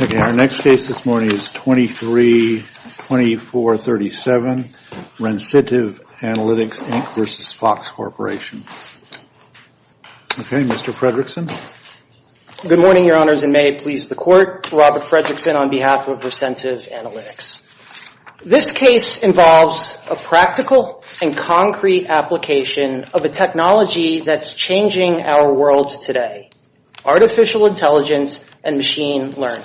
Okay, our next case this morning is 23-2437, Recentive Analytics, Inc. v. Fox Corporation. Okay, Mr. Fredrickson. Good morning, Your Honors, and may it please the Court. Robert Fredrickson on behalf of Recentive Analytics. This case involves a practical and concrete application of a technology that's changing our world today, artificial intelligence and machine learning.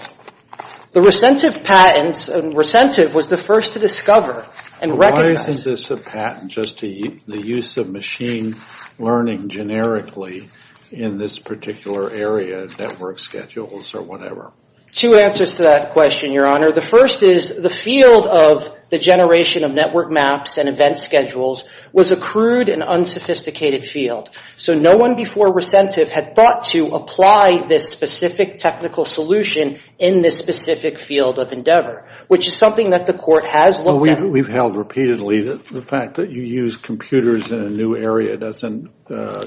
The Recentive was the first to discover and recognize... Why isn't this a patent just to the use of machine learning generically in this particular area, network schedules or whatever? Two answers to that question, Your Honor. The first is the field of the generation of network maps and event schedules was a crude and unsophisticated field. So no one before Recentive had thought to apply this specific technical solution in this specific field of endeavor, which is something that the Court has looked at. We've held repeatedly that the fact that you use computers in a new area doesn't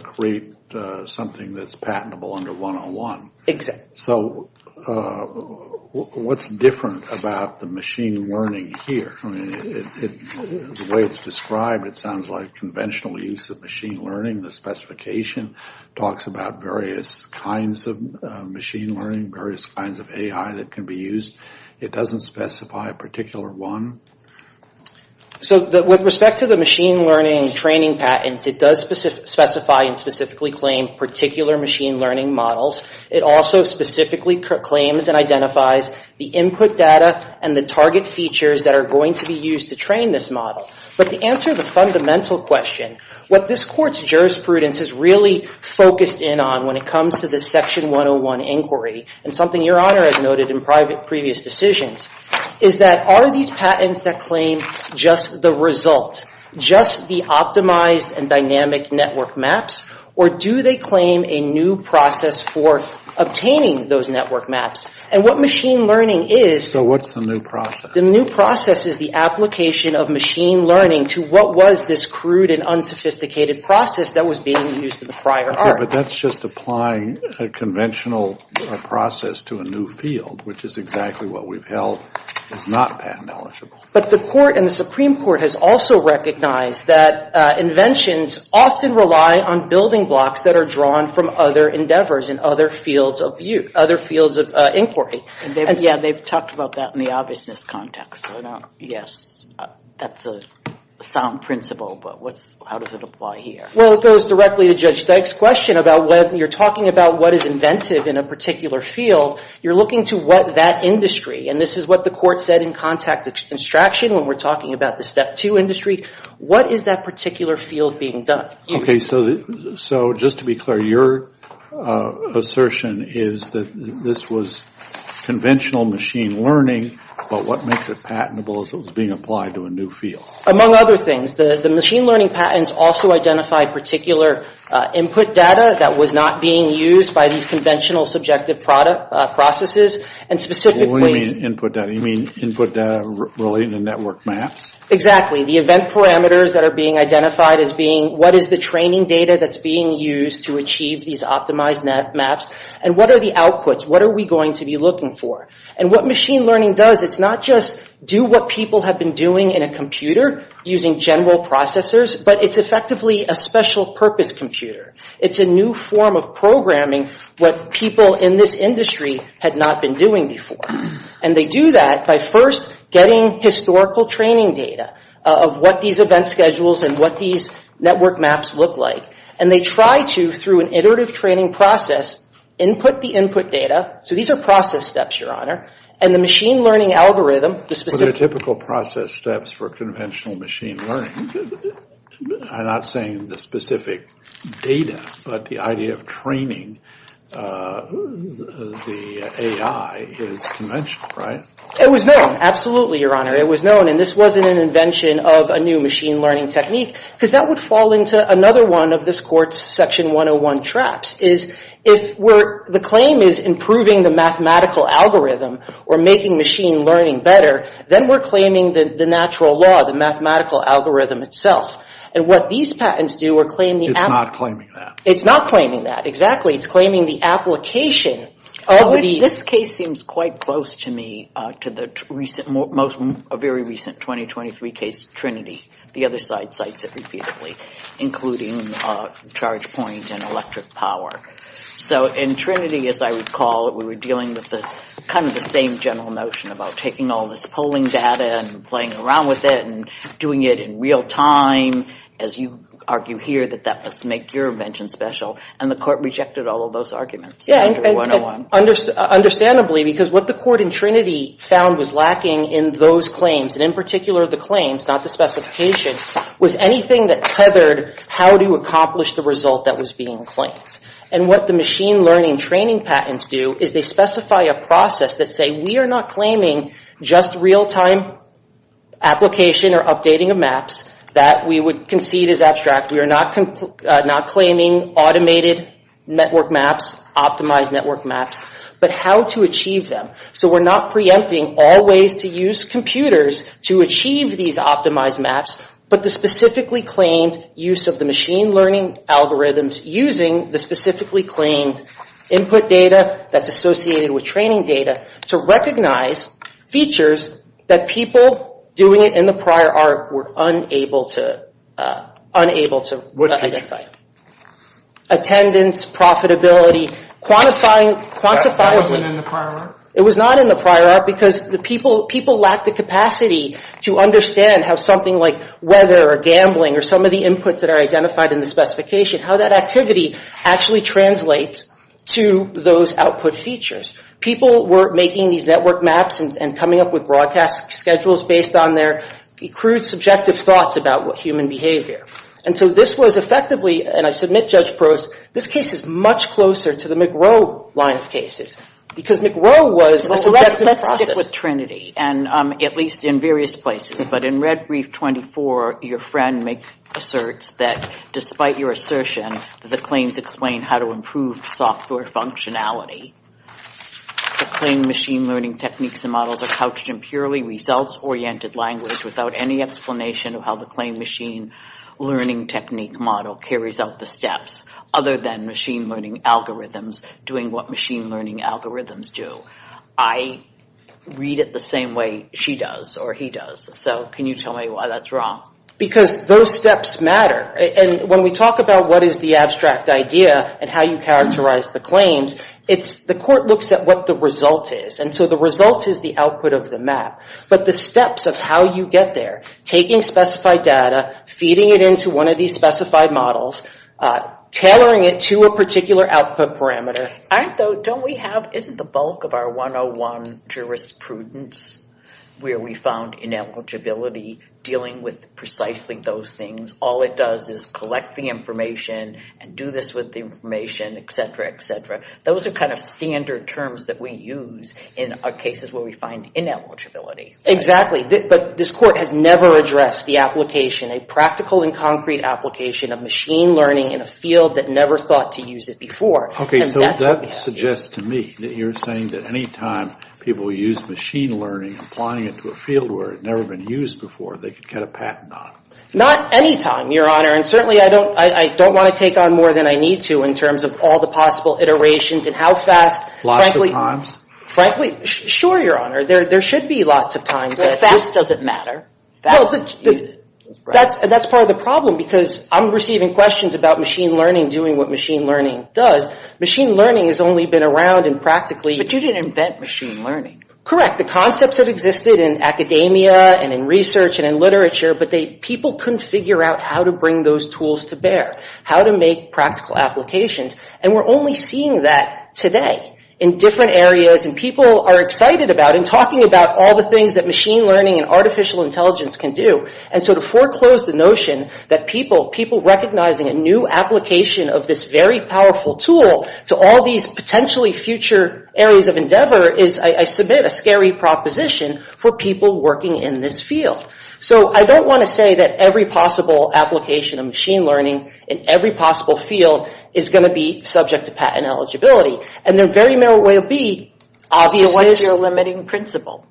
create something that's patentable under 101. Exactly. So what's different about the machine learning here? The way it's described, it sounds like conventional use of machine learning. The specification talks about various kinds of machine learning, various kinds of AI that can be used. It doesn't specify a particular one. So with respect to the machine learning training patents, it does specify and specifically claim particular machine learning models. It also specifically claims and identifies the input data and the target features that are going to be used to train this model. But to answer the fundamental question, what this Court's jurisprudence is really focused in on when it comes to this Section 101 inquiry, and something Your Honor has noted in previous decisions, is that are these patents that claim just the result, just the optimized and dynamic network maps, or do they claim a new process for obtaining those network maps? And what machine learning is — So what's the new process? The new process is the application of machine learning to what was this crude and unsophisticated process that was being used in the prior art. Okay, but that's just applying a conventional process to a new field, which is exactly what we've held is not patent eligible. But the Court and the Supreme Court has also recognized that inventions often rely on building blocks that are drawn from other endeavors and other fields of view, other fields of inquiry. Yeah, they've talked about that in the obviousness context. Yes, that's a sound principle, but how does it apply here? Well, it goes directly to Judge Dyke's question about whether you're talking about what is inventive in a particular field. You're looking to what that industry, and this is what the Court said in contact extraction when we're talking about the Step 2 industry, what is that particular field being done? Okay, so just to be clear, your assertion is that this was conventional machine learning, but what makes it patentable is it was being applied to a new field. Among other things, the machine learning patents also identify particular input data that was not being used by these conventional subjective processes. What do you mean input data? You mean input data relating to network maps? Exactly. The event parameters that are being identified as being what is the training data that's being used to achieve these optimized maps, and what are the outputs? What are we going to be looking for? And what machine learning does, it's not just do what people have been doing in a computer using general processors, but it's effectively a special purpose computer. It's a new form of programming what people in this industry had not been doing before. And they do that by first getting historical training data of what these event schedules and what these network maps look like. And they try to, through an iterative training process, input the input data. So these are process steps, Your Honor. And the machine learning algorithm, the specific— But the idea of training the AI is conventional, right? It was known. Absolutely, Your Honor. It was known. And this wasn't an invention of a new machine learning technique, because that would fall into another one of this Court's Section 101 traps, is if the claim is improving the mathematical algorithm or making machine learning better, then we're claiming the natural law, the mathematical algorithm itself. And what these patents do are claim the— It's not claiming that. It's not claiming that. It's claiming the application of the— This case seems quite close to me to the most very recent 2023 case of Trinity. The other side cites it repeatedly, including charge point and electric power. So in Trinity, as I recall, we were dealing with kind of the same general notion about taking all this polling data and playing around with it and doing it in real time, as you argue here, that that must make your invention special. And the Court rejected all of those arguments under 101. Yeah, understandably, because what the Court in Trinity found was lacking in those claims, and in particular the claims, not the specifications, was anything that tethered how to accomplish the result that was being claimed. And what the machine learning training patents do is they specify a process that say, we are not claiming just real-time application or updating of maps that we would concede is abstract. We are not claiming automated network maps, optimized network maps, but how to achieve them. So we're not preempting all ways to use computers to achieve these optimized maps, but the specifically claimed use of the machine learning algorithms using the specifically claimed input data that's associated with training data to recognize features that people doing it in the prior art were unable to identify. Attendance, profitability, quantifying. That wasn't in the prior art? It was not in the prior art because the people lacked the capacity to understand how something like weather or gambling or some of the inputs that are identified in the specification, how that activity actually translates to those output features. People were making these network maps and coming up with broadcast schedules based on their crude, subjective thoughts about human behavior. And so this was effectively, and I submit Judge Prost, this case is much closer to the McRow line of cases because McRow was a selective process. Let's stick with Trinity, and at least in various places. But in Red Reef 24, your friend asserts that despite your assertion that the claims explain how to improve software functionality, the claimed machine learning techniques and models are couched in purely results-oriented language without any explanation of how the claimed machine learning technique model carries out the steps, other than machine learning algorithms doing what machine learning algorithms do. I read it the same way she does or he does. So can you tell me why that's wrong? Because those steps matter. And when we talk about what is the abstract idea and how you characterize the claims, it's the court looks at what the result is. And so the result is the output of the map. But the steps of how you get there, taking specified data, feeding it into one of these specified models, tailoring it to a particular output parameter. Isn't the bulk of our 101 jurisprudence where we found ineligibility dealing with precisely those things? All it does is collect the information and do this with the information, et cetera, et cetera. Those are kind of standard terms that we use in our cases where we find ineligibility. Exactly, but this court has never addressed the application, a practical and concrete application of machine learning in a field that never thought to use it before. Okay, so that suggests to me that you're saying that any time people use machine learning, applying it to a field where it had never been used before, they could get a patent on it. Not any time, Your Honor. And certainly I don't want to take on more than I need to in terms of all the possible iterations and how fast. Lots of times? Frankly, sure, Your Honor. There should be lots of times. But fast doesn't matter. That's part of the problem because I'm receiving questions about machine learning, doing what machine learning does. Machine learning has only been around in practically. But you didn't invent machine learning. Correct. The concepts that existed in academia and in research and in literature, but people couldn't figure out how to bring those tools to bear, how to make practical applications. And we're only seeing that today in different areas. And people are excited about and talking about all the things that machine learning and artificial intelligence can do. And so to foreclose the notion that people recognizing a new application of this very powerful tool to all these potentially future areas of endeavor is, I submit, a scary proposition for people working in this field. So I don't want to say that every possible application of machine learning in every possible field is going to be subject to patent eligibility. And there very merrily will be. But what's your limiting principle?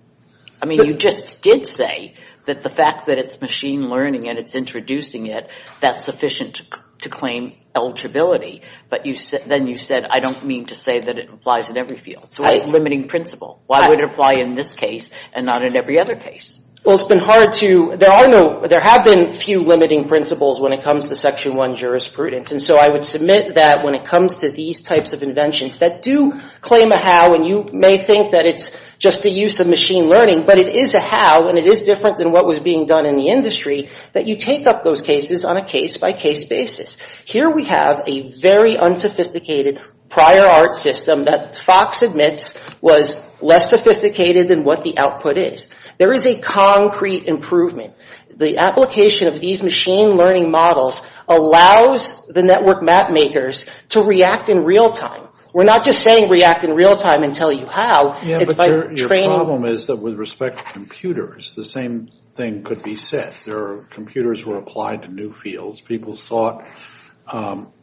I mean, you just did say that the fact that it's machine learning and it's introducing it, that's sufficient to claim eligibility. But then you said, I don't mean to say that it applies in every field. So what's the limiting principle? Why would it apply in this case and not in every other case? Well, it's been hard to – there have been few limiting principles when it comes to Section 1 jurisprudence. And so I would submit that when it comes to these types of inventions that do claim a how, and you may think that it's just a use of machine learning, but it is a how, and it is different than what was being done in the industry, that you take up those cases on a case-by-case basis. Here we have a very unsophisticated prior art system that Fox admits was less sophisticated than what the output is. There is a concrete improvement. The application of these machine learning models allows the network map makers to react in real time. We're not just saying react in real time and tell you how. It's by training – Yeah, but your problem is that with respect to computers, the same thing could be said. There are computers that are applied to new fields. People sought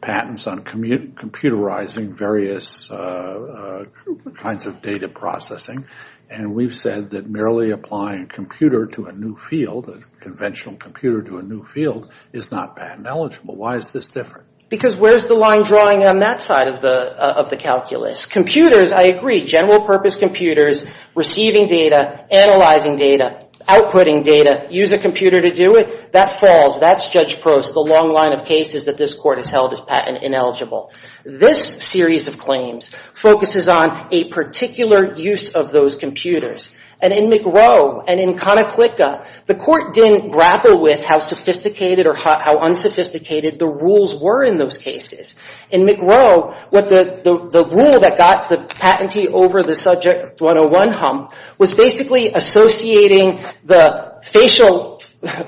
patents on computerizing various kinds of data processing. And we've said that merely applying a computer to a new field, a conventional computer to a new field, is not patent eligible. Why is this different? Because where's the line drawing on that side of the calculus? Computers, I agree, general purpose computers, receiving data, analyzing data, outputting data, use a computer to do it. That falls. That's Judge Prost's long line of cases that this Court has held as patent ineligible. This series of claims focuses on a particular use of those computers. And in McGrow and in Konoclicka, the Court didn't grapple with how sophisticated or how unsophisticated the rules were in those cases. In McGrow, the rule that got the patentee over the Subject 101 hump was basically associating the facial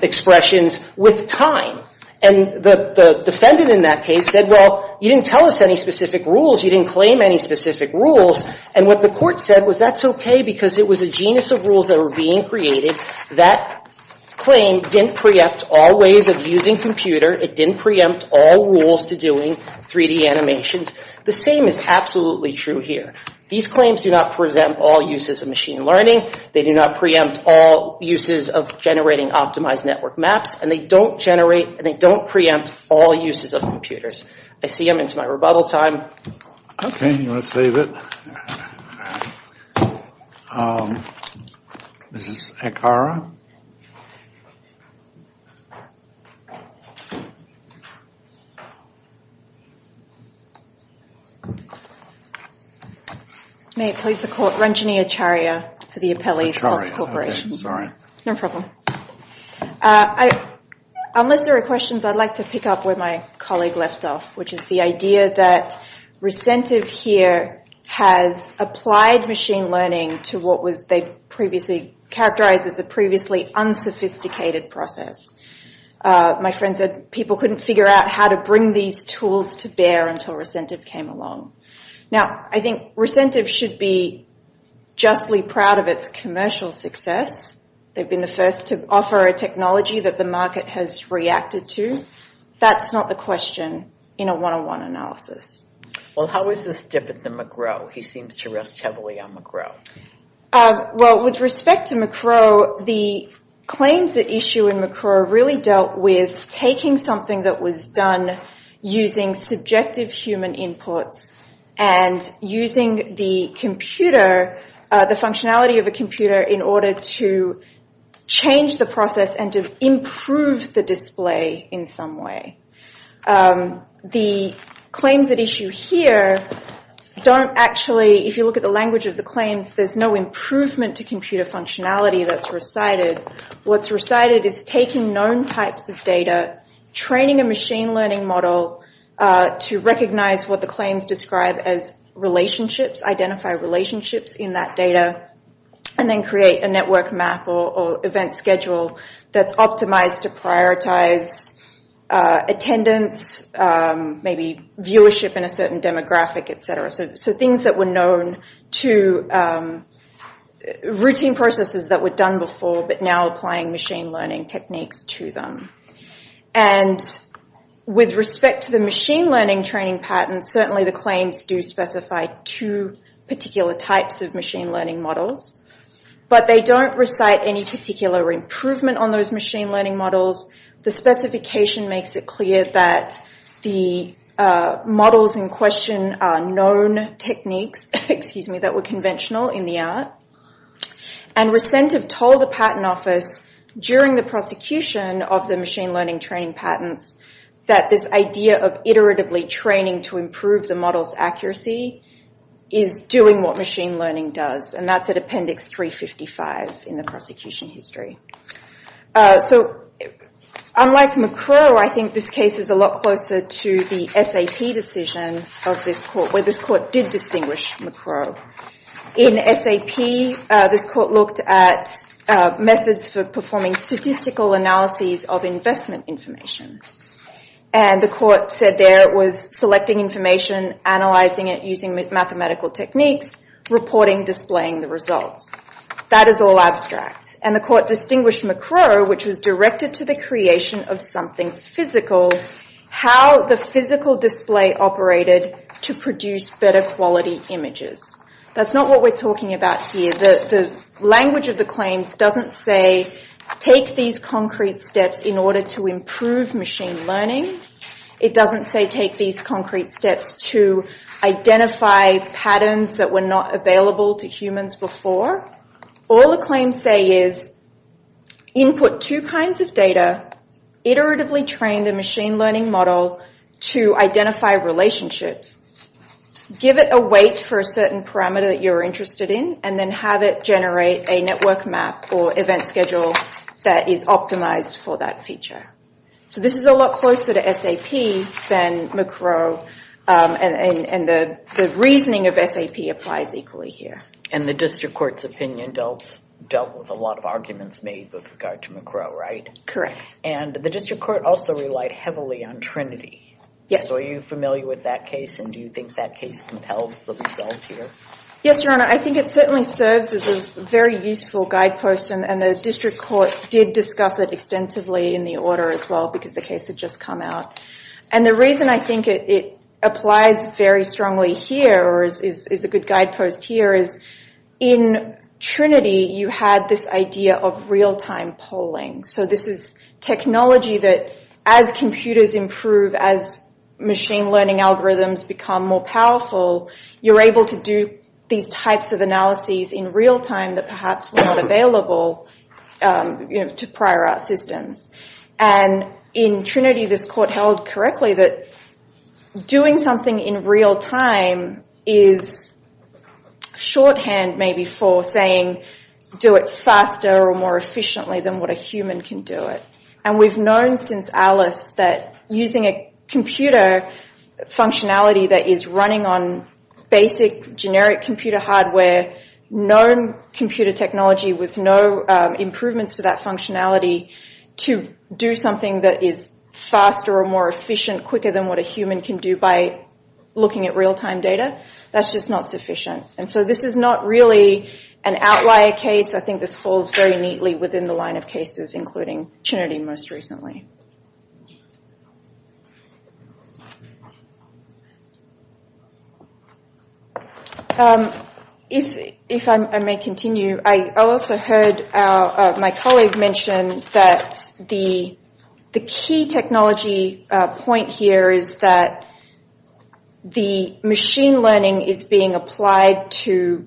expressions with time. And the defendant in that case said, well, you didn't tell us any specific rules. You didn't claim any specific rules. And what the Court said was that's okay because it was a genus of rules that were being created. That claim didn't preempt all ways of using computer. It didn't preempt all rules to doing 3D animations. The same is absolutely true here. These claims do not present all uses of machine learning. They do not preempt all uses of generating optimized network maps. And they don't generate and they don't preempt all uses of computers. I see I'm into my rebuttal time. Okay. You want to save it? Mrs. Akara? May it please the Court, Ranjani Acharya for the Appellee's Health Corporation. Sorry. No problem. Unless there are questions, I'd like to pick up where my colleague left off, which is the idea that recentive here has applied machine learning to what they previously characterized as a previously unsophisticated process. My friend said people couldn't figure out how to bring these tools to bear until recentive came along. Now, I think recentive should be justly proud of its commercial success. They've been the first to offer a technology that the market has reacted to. That's not the question in a one-on-one analysis. Well, how is this different than McRow? He seems to rest heavily on McRow. Well, with respect to McRow, the claims at issue in McRow really dealt with taking something that was done using subjective human inputs and using the computer, the functionality of a computer, in order to change the process and to improve the display in some way. The claims at issue here don't actually, if you look at the language of the claims, there's no improvement to computer functionality that's recited. What's recited is taking known types of data, training a machine learning model to recognize what the claims describe as relationships, identify relationships in that data, and then create a network map or event schedule that's optimized to prioritize attendance, maybe viewership in a certain demographic, et cetera. So things that were known to routine processes that were done before, but now applying machine learning techniques to them. And with respect to the machine learning training patterns, certainly the claims do specify two particular types of machine learning models, but they don't recite any particular improvement on those machine learning models. The specification makes it clear that the models in question are known techniques, excuse me, that were conventional in the art. And Recentev told the patent office during the prosecution of the machine learning training patents that this idea of iteratively training to improve the model's accuracy is doing what machine learning does, and that's at Appendix 355 in the prosecution history. So unlike McCrow, I think this case is a lot closer to the SAP decision of this court, where this court did distinguish McCrow. In SAP, this court looked at methods for performing statistical analyses of investment information. And the court said there it was selecting information, analyzing it using mathematical techniques, reporting, displaying the results. That is all abstract. And the court distinguished McCrow, which was directed to the creation of something physical, how the physical display operated to produce better quality images. That's not what we're talking about here. The language of the claims doesn't say take these concrete steps in order to improve machine learning. It doesn't say take these concrete steps to identify patterns that were not available to humans before. All the claims say is input two kinds of data, iteratively train the machine learning model to identify relationships, give it a weight for a certain parameter that you're interested in, and then have it generate a network map or event schedule that is optimized for that feature. So this is a lot closer to SAP than McCrow, and the reasoning of SAP applies equally here. And the district court's opinion dealt with a lot of arguments made with regard to McCrow, right? Correct. And the district court also relied heavily on Trinity. Yes. So are you familiar with that case, and do you think that case compels the result here? Yes, Your Honor. I think it certainly serves as a very useful guidepost, and the district court did discuss it extensively in the order as well because the case had just come out. And the reason I think it applies very strongly here, or is a good guidepost here, is in Trinity you had this idea of real-time polling. So this is technology that as computers improve, as machine learning algorithms become more powerful, you're able to do these types of analyses in real-time that perhaps were not available to prior art systems. And in Trinity this court held correctly that doing something in real-time is shorthand maybe for saying, do it faster or more efficiently than what a human can do it. And we've known since Alice that using a computer functionality that is running on basic, generic computer hardware, known computer technology with no improvements to that functionality, to do something that is faster or more efficient, quicker than what a human can do by looking at real-time data, that's just not sufficient. And so this is not really an outlier case. I think this falls very neatly within the line of cases, including Trinity most recently. If I may continue, I also heard my colleague mention that the key technology point here is that the machine learning is being applied to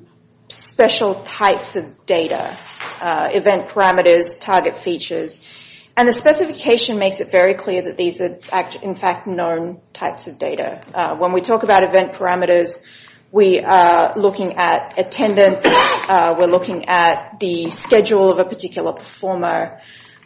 special types of data, event parameters, target features. And the specification makes it very clear that these are in fact known types of data. When we talk about event parameters, we are looking at attendance, we're looking at the schedule of a particular performer.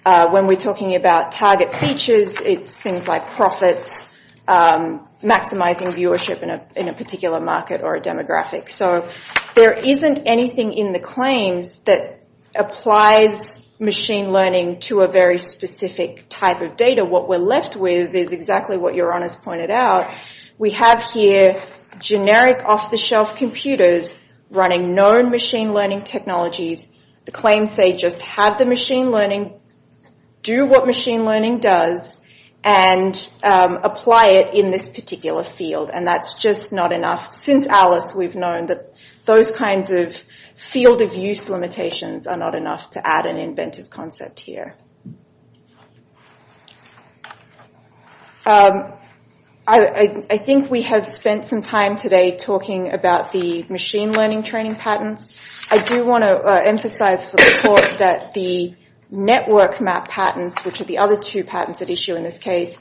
When we're talking about target features, it's things like profits, maximizing viewership in a particular market or a demographic. So there isn't anything in the claims that applies machine learning to a very specific type of data. What we're left with is exactly what your honors pointed out. We have here generic off-the-shelf computers running known machine learning technologies. The claims say just have the machine learning, do what machine learning does, and apply it in this particular field. And that's just not enough. Since Alice, we've known that those kinds of field of use limitations are not enough to add an inventive concept here. I think we have spent some time today talking about the machine learning training patterns. I do want to emphasize for the report that the network map patterns, which are the other two patterns at issue in this case,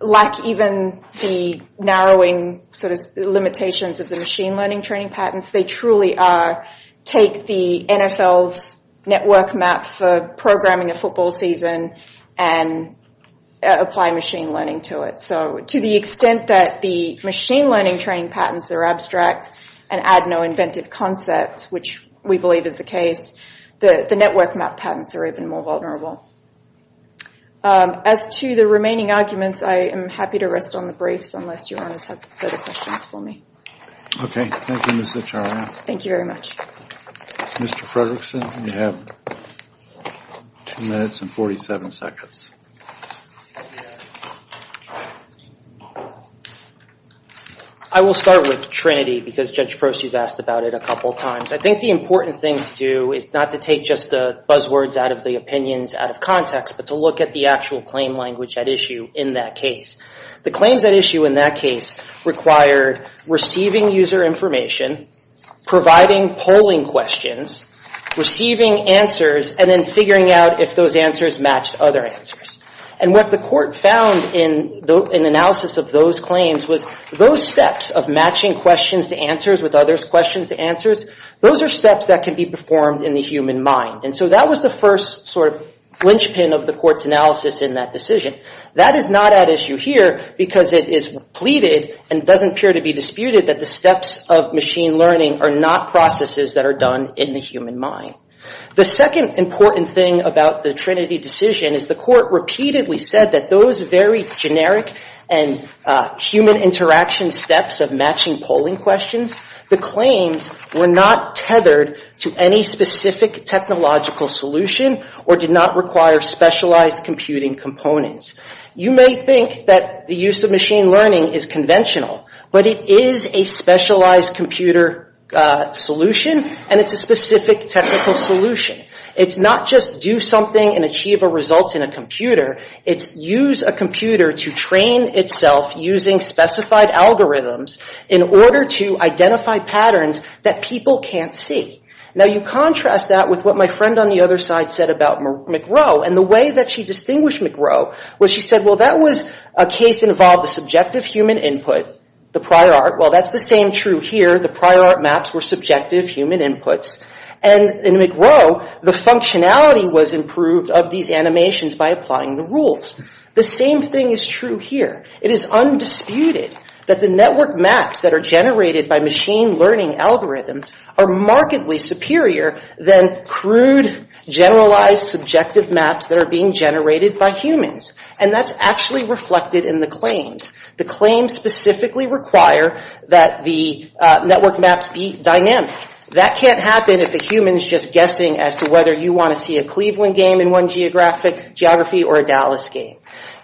lack even the narrowing limitations of the machine learning training patterns. They truly are take the NFL's network map for programming a football season and apply machine learning to it. So to the extent that the machine learning training patterns are abstract and add no inventive concept, which we believe is the case, the network map patterns are even more vulnerable. As to the remaining arguments, I am happy to rest on the briefs unless your honors have further questions for me. Okay. Thank you, Ms. Acharya. Thank you very much. Mr. Fredrickson, you have two minutes and 47 seconds. I will start with Trinity because Judge Proce, you've asked about it a couple of times. I think the important thing to do is not to take just the buzzwords out of the opinions out of context, but to look at the actual claim language at issue in that case. The claims at issue in that case required receiving user information, providing polling questions, receiving answers, and then figuring out if those answers matched other answers. And what the court found in analysis of those claims was those steps of matching questions to answers with other questions to answers, those are steps that can be performed in the human mind. And so that was the first sort of linchpin of the court's analysis in that decision. That is not at issue here because it is pleaded and doesn't appear to be disputed that the steps of machine learning are not processes that are done in the human mind. The second important thing about the Trinity decision is the court repeatedly said that those very generic and human interaction steps of matching polling questions, the claims were not tethered to any specific technological solution or did not require specialized computing components. You may think that the use of machine learning is conventional, but it is a specialized computer solution and it's a specific technical solution. It's not just do something and achieve a result in a computer. It's use a computer to train itself using specified algorithms in order to identify patterns that people can't see. Now, you contrast that with what my friend on the other side said about McGraw. And the way that she distinguished McGraw was she said, well, that was a case involved a subjective human input, the prior art. Well, that's the same true here. The prior art maps were subjective human inputs. And in McGraw, the functionality was improved of these animations by applying the rules. The same thing is true here. It is undisputed that the network maps that are generated by machine learning algorithms are markedly superior than crude, generalized, subjective maps that are being generated by humans. And that's actually reflected in the claims. The claims specifically require that the network maps be dynamic. That can't happen if a human is just guessing as to whether you want to see a Cleveland game in one geography or a Dallas game.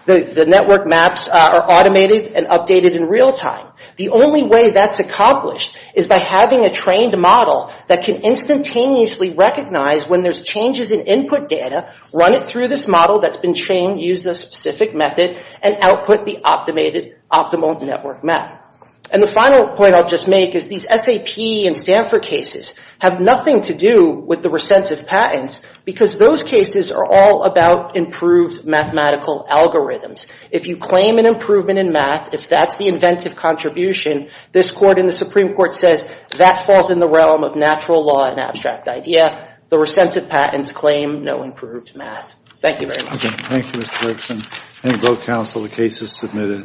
The network maps are automated and updated in real time. The only way that's accomplished is by having a trained model that can instantaneously recognize when there's changes in input data, run it through this model that's been trained using a specific method, and output the optimal network map. And the final point I'll just make is these SAP and Stanford cases have nothing to do with the recentive patents, because those cases are all about improved mathematical algorithms. If you claim an improvement in math, if that's the inventive contribution, this Court and the Supreme Court says that falls in the realm of natural law and abstract idea. The recentive patents claim no improved math. Thank you very much. Thank you, Mr. Robson. Thank you, both counsel. The case is submitted.